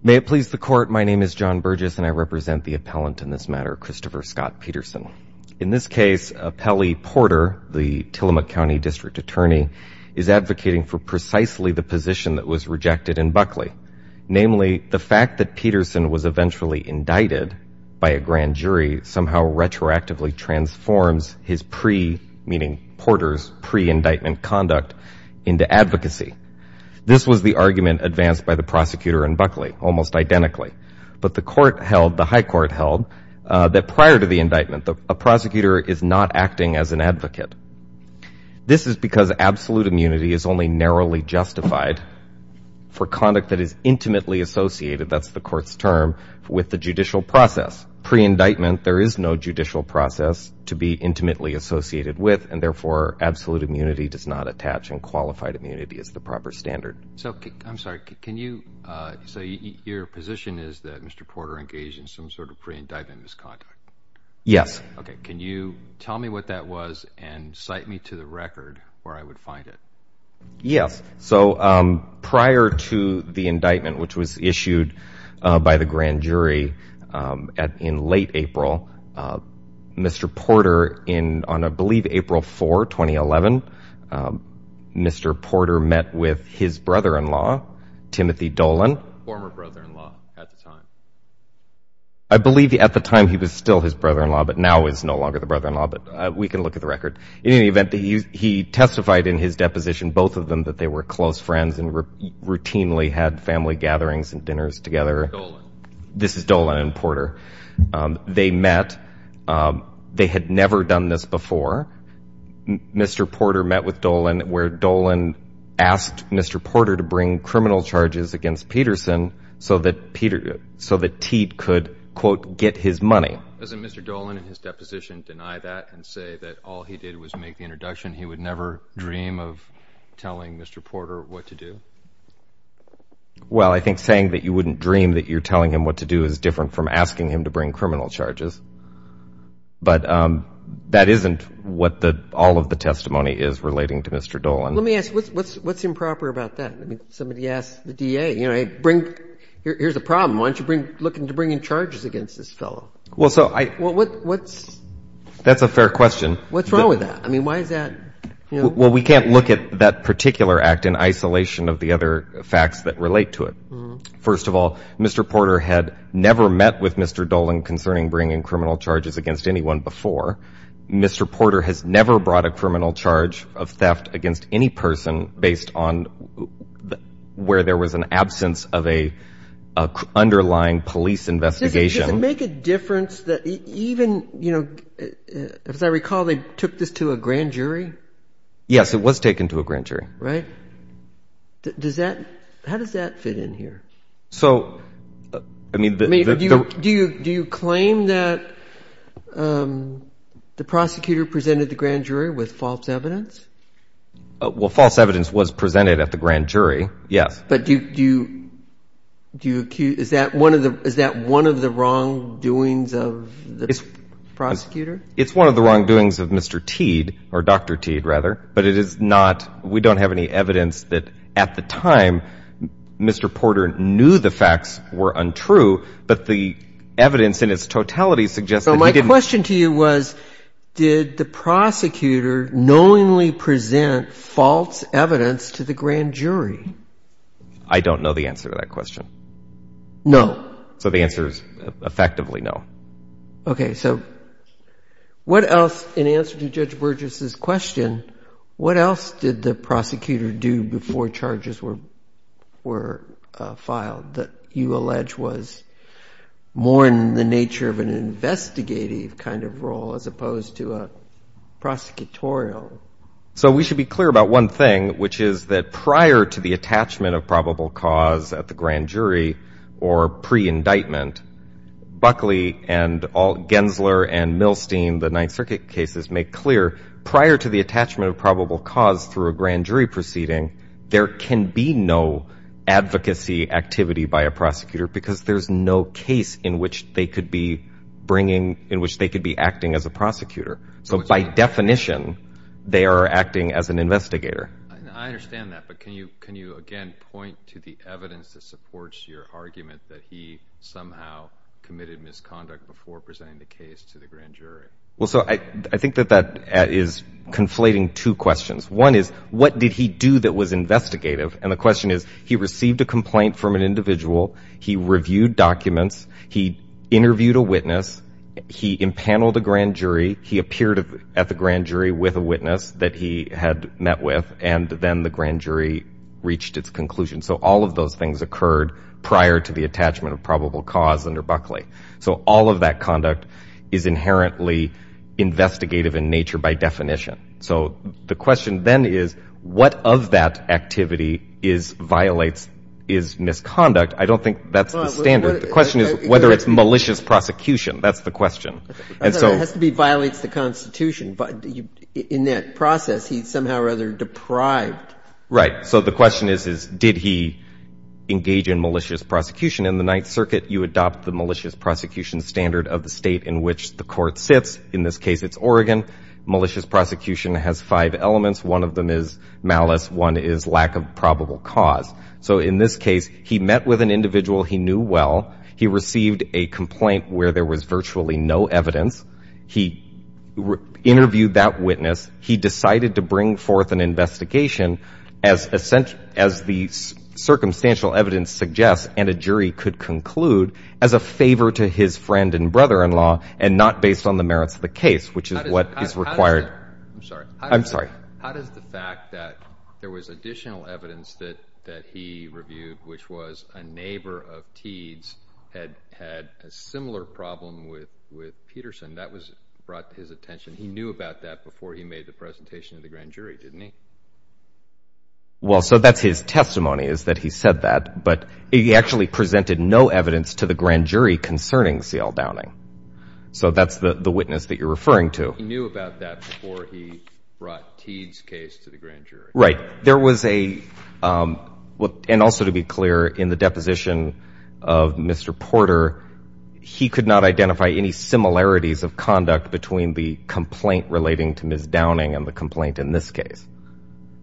May it please the Court, my name is John Burgess, and I represent the appellant in this matter, Christopher Scott Peterson. In this case, Appellee Porter, the Tillamook County District Attorney, is advocating for Buckley, namely, the fact that Peterson was eventually indicted by a grand jury somehow retroactively transforms his pre, meaning Porter's pre-indictment conduct, into advocacy. This was the argument advanced by the prosecutor and Buckley, almost identically. But the court held, the high court held, that prior to the indictment, a prosecutor is not acting as an advocate. This is because absolute immunity is only narrowly justified for conduct that is intimately associated, that's the court's term, with the judicial process. Pre-indictment, there is no judicial process to be intimately associated with, and therefore, absolute immunity does not attach, and qualified immunity is the proper standard. So I'm sorry, can you, so your position is that Mr. Porter engaged in some sort of pre-indictment misconduct? Yes. Okay, can you tell me what that was and cite me to the record where I would find it? Yes. So, prior to the indictment, which was issued by the grand jury in late April, Mr. Porter, on I believe April 4, 2011, Mr. Porter met with his brother-in-law, Timothy Dolan. Former brother-in-law at the time. I believe at the time he was still his brother-in-law, but now is no longer the brother-in-law, but we can look at the record. In any event, he testified in his deposition, both of them, that they were close friends and routinely had family gatherings and dinners together. Dolan. This is Dolan and Porter. They met. They had never done this before. Mr. Porter met with Dolan where Dolan asked Mr. Porter to bring criminal charges against Peterson so that Teat could, quote, get his money. Doesn't Mr. Dolan in his deposition deny that and say that all he did was make the introduction? He would never dream of telling Mr. Porter what to do? Well, I think saying that you wouldn't dream that you're telling him what to do is different from asking him to bring criminal charges, but that isn't what all of the testimony is relating to Mr. Dolan. Let me ask, what's improper about that? Somebody asked the DA, here's a problem, why don't you look into bringing charges against this fellow? Well, so I... Well, what's... That's a fair question. What's wrong with that? I mean, why is that... Well, we can't look at that particular act in isolation of the other facts that relate to it. First of all, Mr. Porter had never met with Mr. Dolan concerning bringing criminal charges against anyone before. Mr. Porter has never brought a criminal charge of theft against any person based on where there was an absence of an underlying police investigation. Does it make a difference that even, as I recall, they took this to a grand jury? Yes, it was taken to a grand jury. Right. How does that fit in here? So I mean... Do you claim that the prosecutor presented the grand jury with false evidence? Well, false evidence was presented at the grand jury, yes. But do you... Is that one of the wrongdoings of the prosecutor? It's one of the wrongdoings of Mr. Teed, or Dr. Teed, rather, but it is not... at the time, Mr. Porter knew the facts were untrue, but the evidence in its totality suggests that he didn't... So my question to you was, did the prosecutor knowingly present false evidence to the grand jury? I don't know the answer to that question. No. So the answer is effectively no. Okay. So what else, in answer to Judge Burgess's question, what else did the prosecutor do before charges were filed that you allege was more in the nature of an investigative kind of role as opposed to a prosecutorial? So we should be clear about one thing, which is that prior to the attachment of probable cause at the grand jury or pre-indictment, Buckley and Gensler and Milstein, the Ninth Circuit cases, make clear prior to the attachment of probable cause through a grand jury proceeding, there can be no advocacy activity by a prosecutor because there's no case in which they could be bringing... In which they could be acting as a prosecutor. So by definition, they are acting as an investigator. I understand that, but can you again point to the evidence that supports your argument that he somehow committed misconduct before presenting the case to the grand jury? Well, so I think that that is conflating two questions. One is, what did he do that was investigative? And the question is, he received a complaint from an individual. He reviewed documents. He interviewed a witness. He impaneled a grand jury. He appeared at the grand jury with a witness that he had met with, and then the grand jury reached its conclusion. So all of those things occurred prior to the attachment of probable cause under Buckley. So all of that conduct is inherently investigative in nature by definition. So the question then is, what of that activity violates his misconduct? I don't think that's the standard. The question is whether it's malicious prosecution. That's the question. I thought it has to be violates the Constitution, but in that process, he's somehow rather deprived. Right. So the question is, did he engage in malicious prosecution? In the Ninth Circuit, you adopt the malicious prosecution standard of the state in which the court sits. In this case, it's Oregon. Malicious prosecution has five elements. One of them is malice. One is lack of probable cause. So in this case, he met with an individual he knew well. He received a complaint where there was virtually no evidence. He interviewed that witness. He decided to bring forth an investigation, as the circumstantial evidence suggests, and a jury could conclude, as a favor to his friend and brother-in-law, and not based on the merits of the case, which is what is required. I'm sorry. I'm sorry. How does the fact that there was additional evidence that he reviewed, which was a neighbor of Teed's, had had a similar problem with Peterson, that was brought to his attention? He knew about that before he made the presentation to the grand jury, didn't he? Well, so that's his testimony, is that he said that, but he actually presented no evidence to the grand jury concerning C.L. Downing. So that's the witness that you're referring to. He knew about that before he brought Teed's case to the grand jury. Right. There was a, and also to be clear, in the deposition of Mr. Porter, he could not identify any similarities of conduct between the complaint relating to Ms. Downing and the complaint in this case.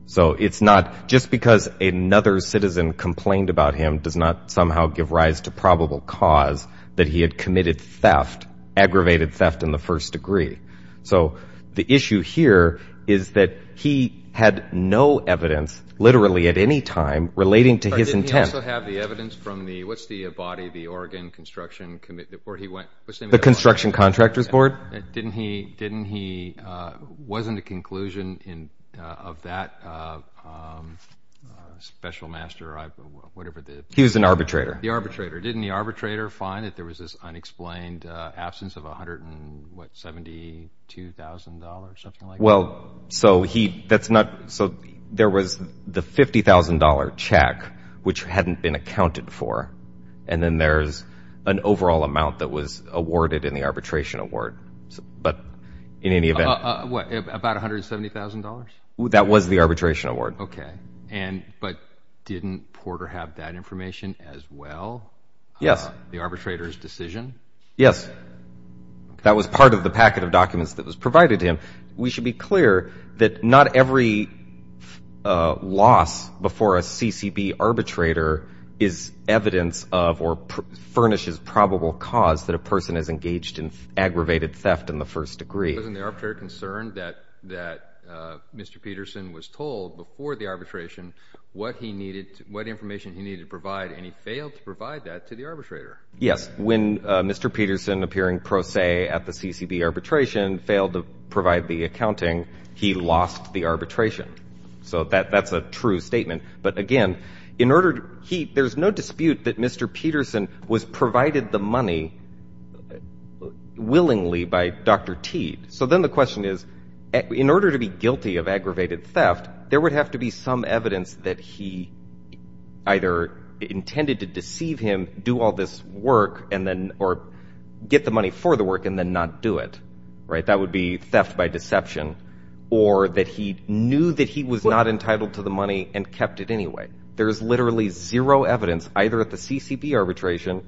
So it's not, just because another citizen complained about him does not somehow give rise to probable cause that he had committed theft, aggravated theft in the first degree. So the issue here is that he had no evidence, literally at any time, relating to his intent. Didn't he also have the evidence from the, what's the body, the Oregon Construction Committee, where he went? The Construction Contractors Board? Didn't he, wasn't a conclusion of that special master, whatever the- He was an arbitrator. The arbitrator. Didn't the arbitrator find that there was this unexplained absence of $172,000 or something like that? Well, so he, that's not, so there was the $50,000 check, which hadn't been accounted for. And then there's an overall amount that was awarded in the arbitration award. But in any event- About $170,000? That was the arbitration award. Okay. But didn't Porter have that information as well? Yes. The arbitrator's decision? Yes. That was part of the packet of documents that was provided to him. We should be clear that not every loss before a CCB arbitrator is evidence of or furnishes probable cause that a person has engaged in aggravated theft in the first degree. Wasn't the arbitrator concerned that Mr. Peterson was told before the arbitration what he needed, what information he needed to provide, and he failed to provide that to the arbitrator? Yes. When Mr. Peterson, appearing pro se at the CCB arbitration, failed to provide the accounting, he lost the arbitration. So that's a true statement. But again, in order, there's no dispute that Mr. Peterson was provided the money willingly by Dr. Teed. So then the question is, in order to be guilty of aggravated theft, there would have to be some evidence that he either intended to deceive him, do all this work, or get the money for the work and then not do it. That would be theft by deception. Or that he knew that he was not entitled to the money and kept it anyway. There's literally zero evidence, either at the CCB arbitration,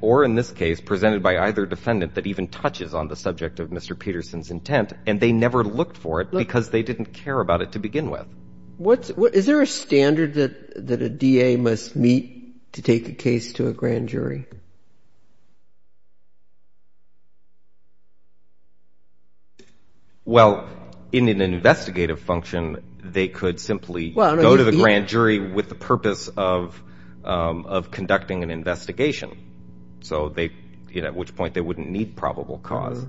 or in this case, presented by either defendant that even touches on the subject of Mr. Peterson's intent. And they never looked for it because they didn't care about it to begin with. Is there a standard that a DA must meet to take a case to a grand jury? Well, in an investigative function, they could simply go to the grand jury with the purpose of conducting an investigation. So they, at which point, they wouldn't need probable cause.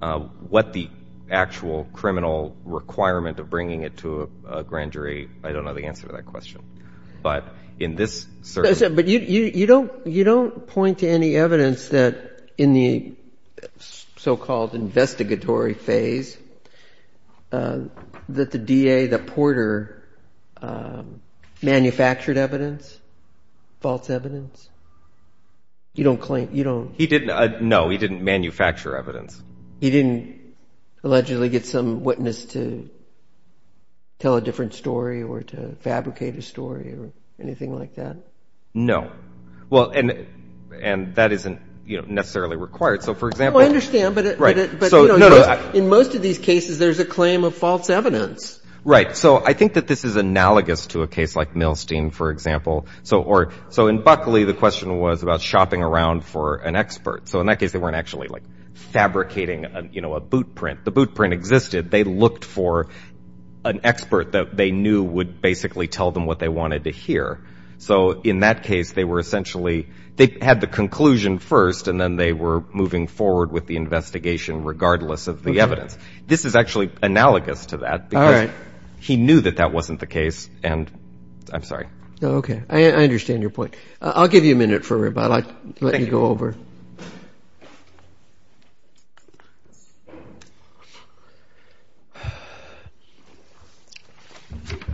What the actual criminal requirement of bringing it to a grand jury, I don't know the answer to that question. But in this certain- But you don't point to any evidence that in the so-called investigatory phase, that the you don't claim, you don't- He didn't. No, he didn't manufacture evidence. He didn't allegedly get some witness to tell a different story or to fabricate a story or anything like that? No. Well, and that isn't necessarily required. So for example- I understand, but in most of these cases, there's a claim of false evidence. Right. So I think that this is analogous to a case like Milstein, for example. So in Buckley, the question was about shopping around for an expert. So in that case, they weren't actually fabricating a boot print. The boot print existed. They looked for an expert that they knew would basically tell them what they wanted to hear. So in that case, they were essentially, they had the conclusion first, and then they were moving forward with the investigation regardless of the evidence. This is actually analogous to that because he knew that that wasn't the case. And I'm sorry. No, okay. I understand your point. I'll give you a minute for it, but I'd like to let you go over. Thank you.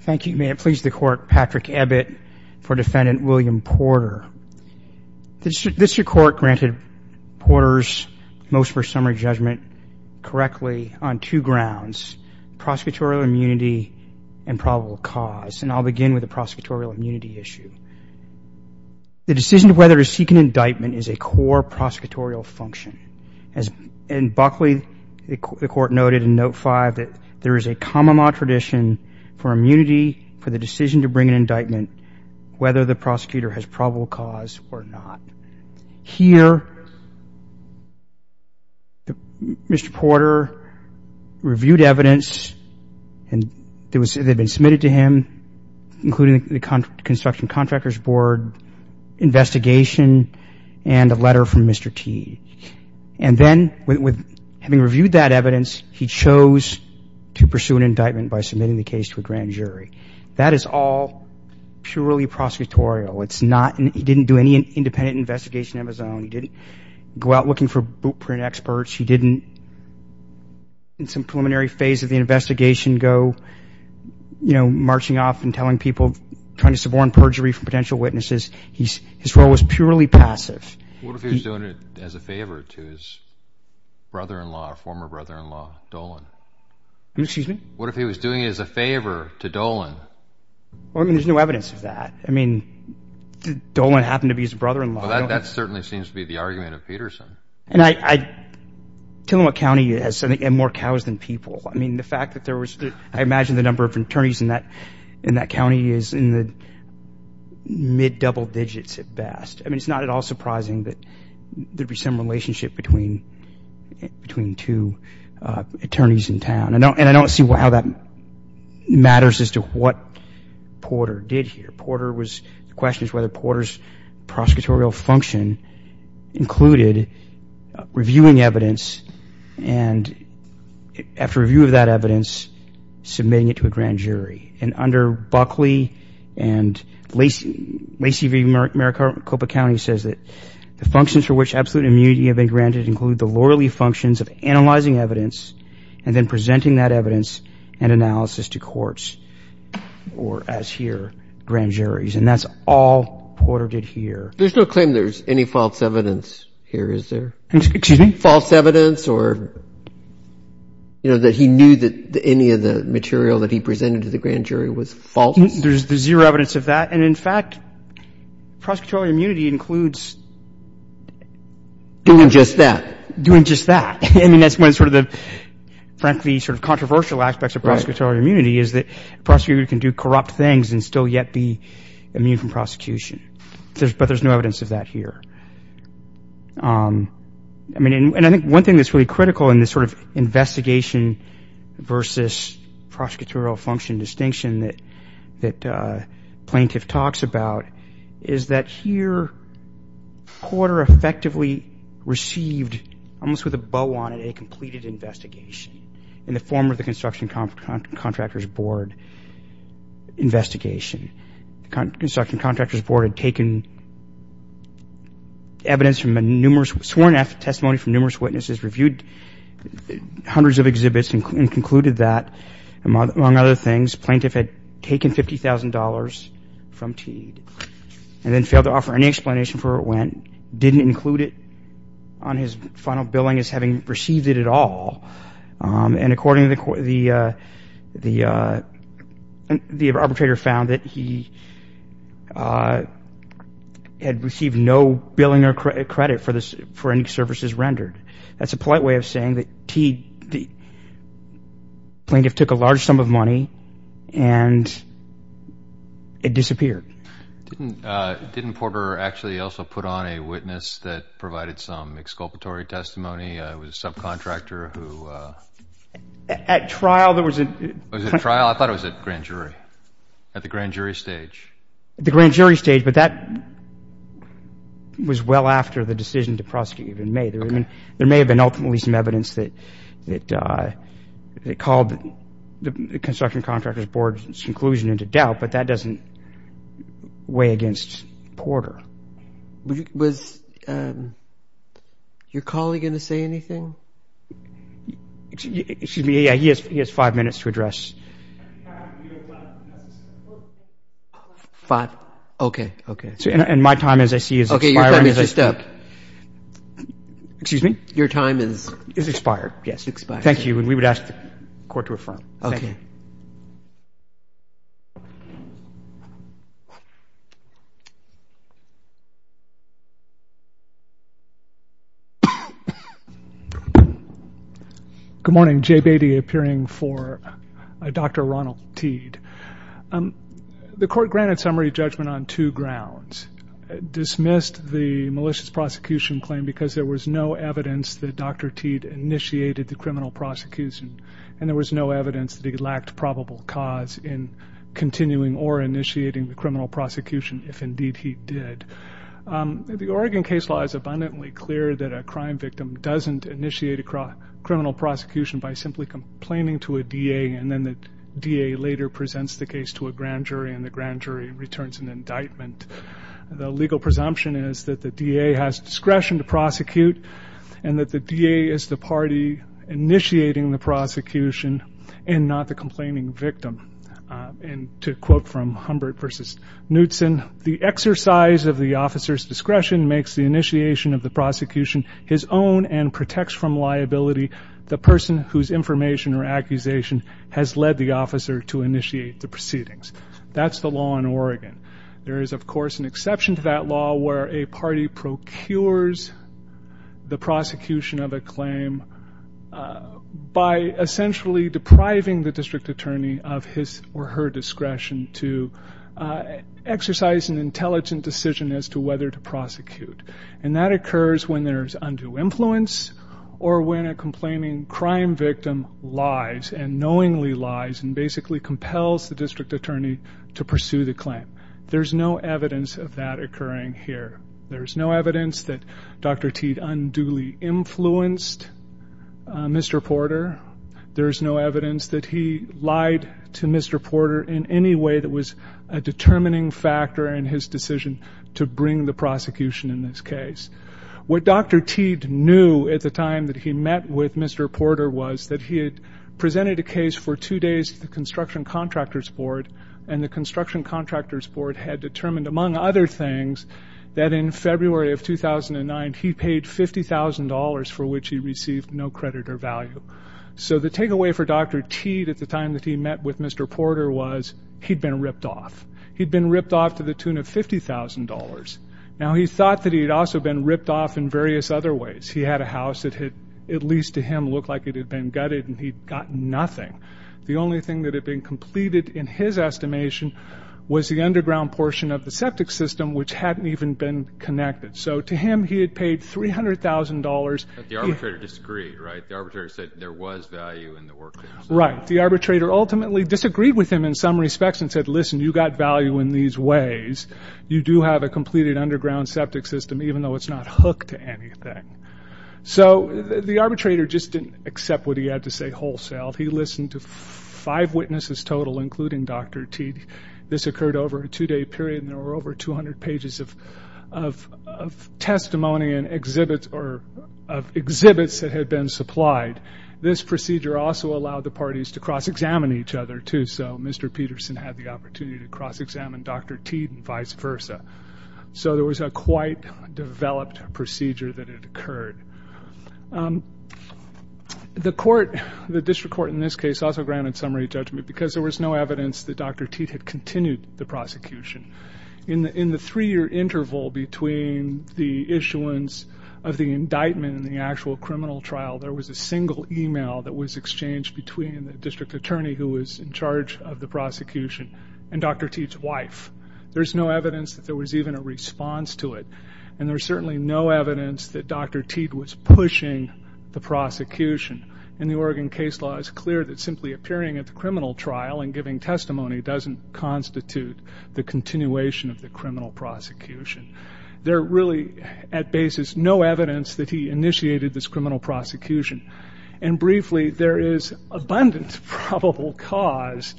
Thank you. May it please the Court. Patrick Ebbitt for Defendant William Porter. This Court granted Porter's most first summary judgment correctly on two grounds. Prosecutorial immunity and probable cause. And I'll begin with the prosecutorial immunity issue. The decision of whether to seek an indictment is a core prosecutorial function. In Buckley, the Court noted in Note 5 that there is a comma mod tradition for immunity for the decision to bring an indictment, whether the prosecutor has probable cause or not. Here, Mr. Porter reviewed evidence, and it had been submitted to him, including the Construction Contractors Board investigation and a letter from Mr. Teague. And then, having reviewed that evidence, he chose to pursue an indictment by submitting the case to a grand jury. That is all purely prosecutorial. He didn't do any independent investigation of his own. He didn't go out looking for boot print experts. He didn't, in some preliminary phase of the investigation, go, you know, marching off and telling people, trying to suborn perjury from potential witnesses. His role was purely passive. What if he was doing it as a favor to his brother-in-law, former brother-in-law, Dolan? Excuse me? What if he was doing it as a favor to Dolan? Well, I mean, there's no evidence of that. I mean, did Dolan happen to be his brother-in-law? Well, that certainly seems to be the argument of Peterson. And I, Tillamook County has more cows than people. I mean, the fact that there was, I imagine the number of attorneys in that county is in the mid-double digits at best. I mean, it's not at all surprising that there'd be some relationship between two attorneys in town. And I don't see how that matters as to what Porter did here. The question is whether Porter's prosecutorial function included reviewing evidence and after review of that evidence, submitting it to a grand jury. And under Buckley and Lacey v. Maricopa County says that the functions for which absolute immunity have been granted include the lawyerly functions of analyzing evidence and then presenting that evidence and analysis to courts or, as here, grand juries. And that's all Porter did here. There's no claim there's any false evidence here, is there? Excuse me? False evidence or, you know, that he knew that any of the material that he presented to the grand jury was false? There's zero evidence of that. And in fact, prosecutorial immunity includes doing just that. Doing just that. I mean, that's one of the, frankly, sort of controversial aspects of prosecutorial immunity is that a prosecutor can do corrupt things and still yet be immune from prosecution. But there's no evidence of that here. I mean, and I think one thing that's really critical in this sort of investigation versus prosecutorial function distinction that Plaintiff talks about is that here Porter effectively received, almost with a bow on it, a completed investigation in the form of the Construction Contractors' Board investigation. Construction Contractors' Board had taken evidence from numerous, sworn testimony from numerous witnesses, reviewed hundreds of exhibits and concluded that, among other things, Plaintiff had taken $50,000 from Teague and then failed to offer any explanation for where it went, didn't include it on his final billing as having received it at all. And according to the court, the arbitrator found that he had received no billing or credit for any services rendered. That's a polite way of saying that Teague, Plaintiff took a large sum of money and it disappeared. Didn't Porter actually also put on a witness that provided some exculpatory testimony? It was a subcontractor who... At trial, there was a... Was it at trial? I thought it was at grand jury, at the grand jury stage. The grand jury stage, but that was well after the decision to prosecute had been made. There may have been ultimately some evidence that called the Construction Contractors' Board's conclusion into doubt, but that doesn't weigh against Porter. Was your colleague going to say anything? Excuse me, yeah, he has five minutes to address... Five? Okay. Okay. And my time, as I see it, is expired. Okay, your time is just up. Excuse me? Your time is... Is expired, yes. Thank you. And we would ask the court to affirm. Okay. Thank you. Okay. Thank you. Thank you. Good morning. Jay Beatty, appearing for Dr. Ronald Teed. The court granted summary judgment on two grounds. Dismissed the malicious prosecution claim because there was no evidence that Dr. Teed initiated the criminal prosecution, and there was no evidence that he lacked probable cause in continuing or initiating the criminal prosecution, if indeed he did. The Oregon case law is abundantly clear that a crime victim doesn't initiate a criminal prosecution by simply complaining to a DA, and then the DA later presents the case to a grand jury, and the grand jury returns an indictment. The legal presumption is that the DA has discretion to prosecute, and that the DA is the party initiating the prosecution, and not the complaining victim. To quote from Humbert v. Knutson, the exercise of the officer's discretion makes the initiation of the prosecution his own and protects from liability the person whose information or accusation has led the officer to initiate the proceedings. That's the law in Oregon. There is of course an exception to that law where a party procures the prosecution of a claim by essentially depriving the district attorney of his or her discretion to exercise an intelligent decision as to whether to prosecute. And that occurs when there's undue influence or when a complaining crime victim lies and knowingly lies and basically compels the district attorney to pursue the claim. There's no evidence of that occurring here. There's no evidence that Dr. Teed unduly influenced Mr. Porter. There's no evidence that he lied to Mr. Porter in any way that was a determining factor in his decision to bring the prosecution in this case. What Dr. Teed knew at the time that he met with Mr. Porter was that he had presented a case for two days to the Construction Contractors Board, and the Construction Contractors Board had determined, among other things, that in February of 2009 he paid $50,000 for which he received no credit or value. So the takeaway for Dr. Teed at the time that he met with Mr. Porter was he'd been ripped off. He'd been ripped off to the tune of $50,000. Now he thought that he'd also been ripped off in various other ways. He had a house that had, at least to him, looked like it had been gutted and he'd got nothing. The only thing that had been completed, in his estimation, was the underground portion of the septic system, which hadn't even been connected. So to him, he had paid $300,000. But the arbitrator disagreed, right? The arbitrator said there was value in the work that was done. Right. The arbitrator ultimately disagreed with him in some respects and said, listen, you got value in these ways. You do have a completed underground septic system, even though it's not hooked to anything. So the arbitrator just didn't accept what he had to say wholesale. He listened to five witnesses total, including Dr. Teed. This occurred over a two-day period and there were over 200 pages of testimony and exhibits that had been supplied. This procedure also allowed the parties to cross-examine each other, too. So Mr. Peterson had the opportunity to cross-examine Dr. Teed and vice versa. So there was a quite developed procedure that had occurred. The court, the district court in this case, also granted summary judgment because there was no evidence that Dr. Teed had continued the prosecution. In the three-year interval between the issuance of the indictment and the actual criminal trial, there was a single email that was exchanged between the district attorney who was in charge of the prosecution and Dr. Teed's wife. There's no evidence that there was even a response to it. And there's certainly no evidence that Dr. Teed was pushing the prosecution. And the Oregon case law is clear that simply appearing at the criminal trial and giving testimony doesn't constitute the continuation of the criminal prosecution. There really, at basis, no evidence that he initiated this criminal prosecution. And briefly, there is abundant probable cause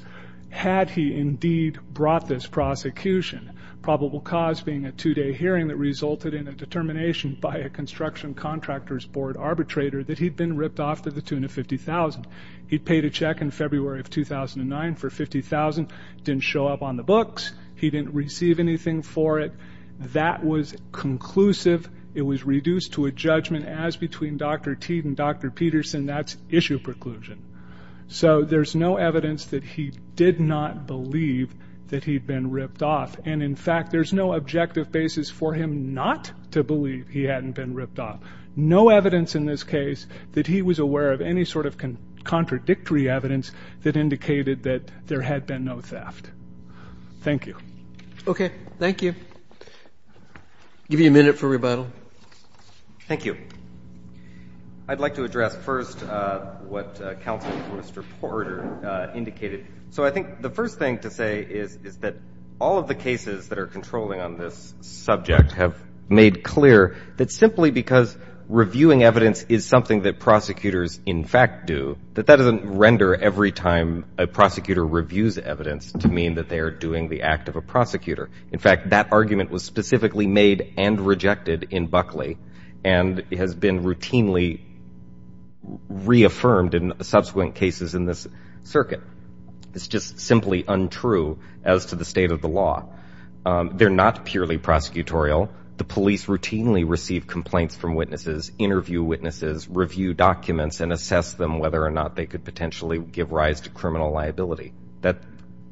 had he indeed brought this prosecution. Probable cause being a two-day hearing that resulted in a determination by a construction contractor's board arbitrator that he'd been ripped off to the tune of $50,000. He paid a check in February of 2009 for $50,000, didn't show up on the books. He didn't receive anything for it. That was conclusive. It was reduced to a judgment as between Dr. Teed and Dr. Peterson, that's issue preclusion. So there's no evidence that he did not believe that he'd been ripped off. And in fact, there's no objective basis for him not to believe he hadn't been ripped off. No evidence in this case that he was aware of any sort of contradictory evidence that indicated that there had been no theft. Thank you. Okay. Thank you. I'll give you a minute for rebuttal. Thank you. I'd like to address first what Councilman Forrester-Porter indicated. So I think the first thing to say is that all of the cases that are controlling on this subject have made clear that simply because reviewing evidence is something that prosecutors in fact do, that that doesn't render every time a prosecutor reviews evidence to mean that they are doing the act of a prosecutor. In fact, that argument was specifically made and rejected in Buckley and has been routinely reaffirmed in subsequent cases in this circuit. It's just simply untrue as to the state of the law. They're not purely prosecutorial. The police routinely receive complaints from witnesses, interview witnesses, review documents, and assess them whether or not they could potentially give rise to criminal liability.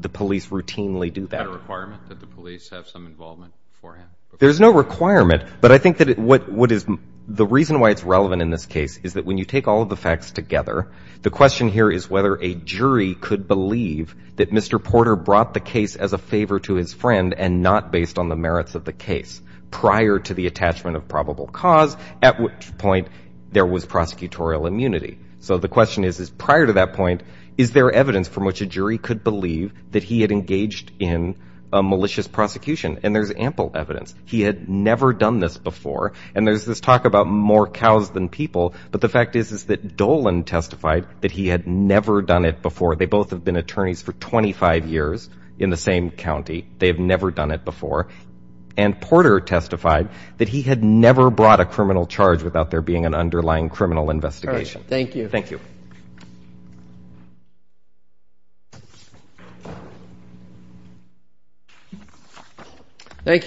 The police routinely do that. Is that a requirement that the police have some involvement beforehand? There's no requirement, but I think that what is the reason why it's relevant in this case is that when you take all of the facts together, the question here is whether a jury could believe that Mr. Porter brought the case as a favor to his friend and not based on the merits of the case prior to the attachment of probable cause, at which point there was prosecutorial immunity. So the question is, prior to that point, is there evidence from which a jury could believe that he had engaged in a malicious prosecution? And there's ample evidence. He had never done this before. And there's this talk about more cows than people, but the fact is that Dolan testified that he had never done it before. They both have been attorneys for 25 years in the same county. They have never done it before. And Porter testified that he had never brought a criminal charge without there being an underlying criminal investigation. All right. Thank you. Thank you. Thank you. Thank you. Thank you. Thank you. Thank you. Thank you. Thank you. Thank you, counsel.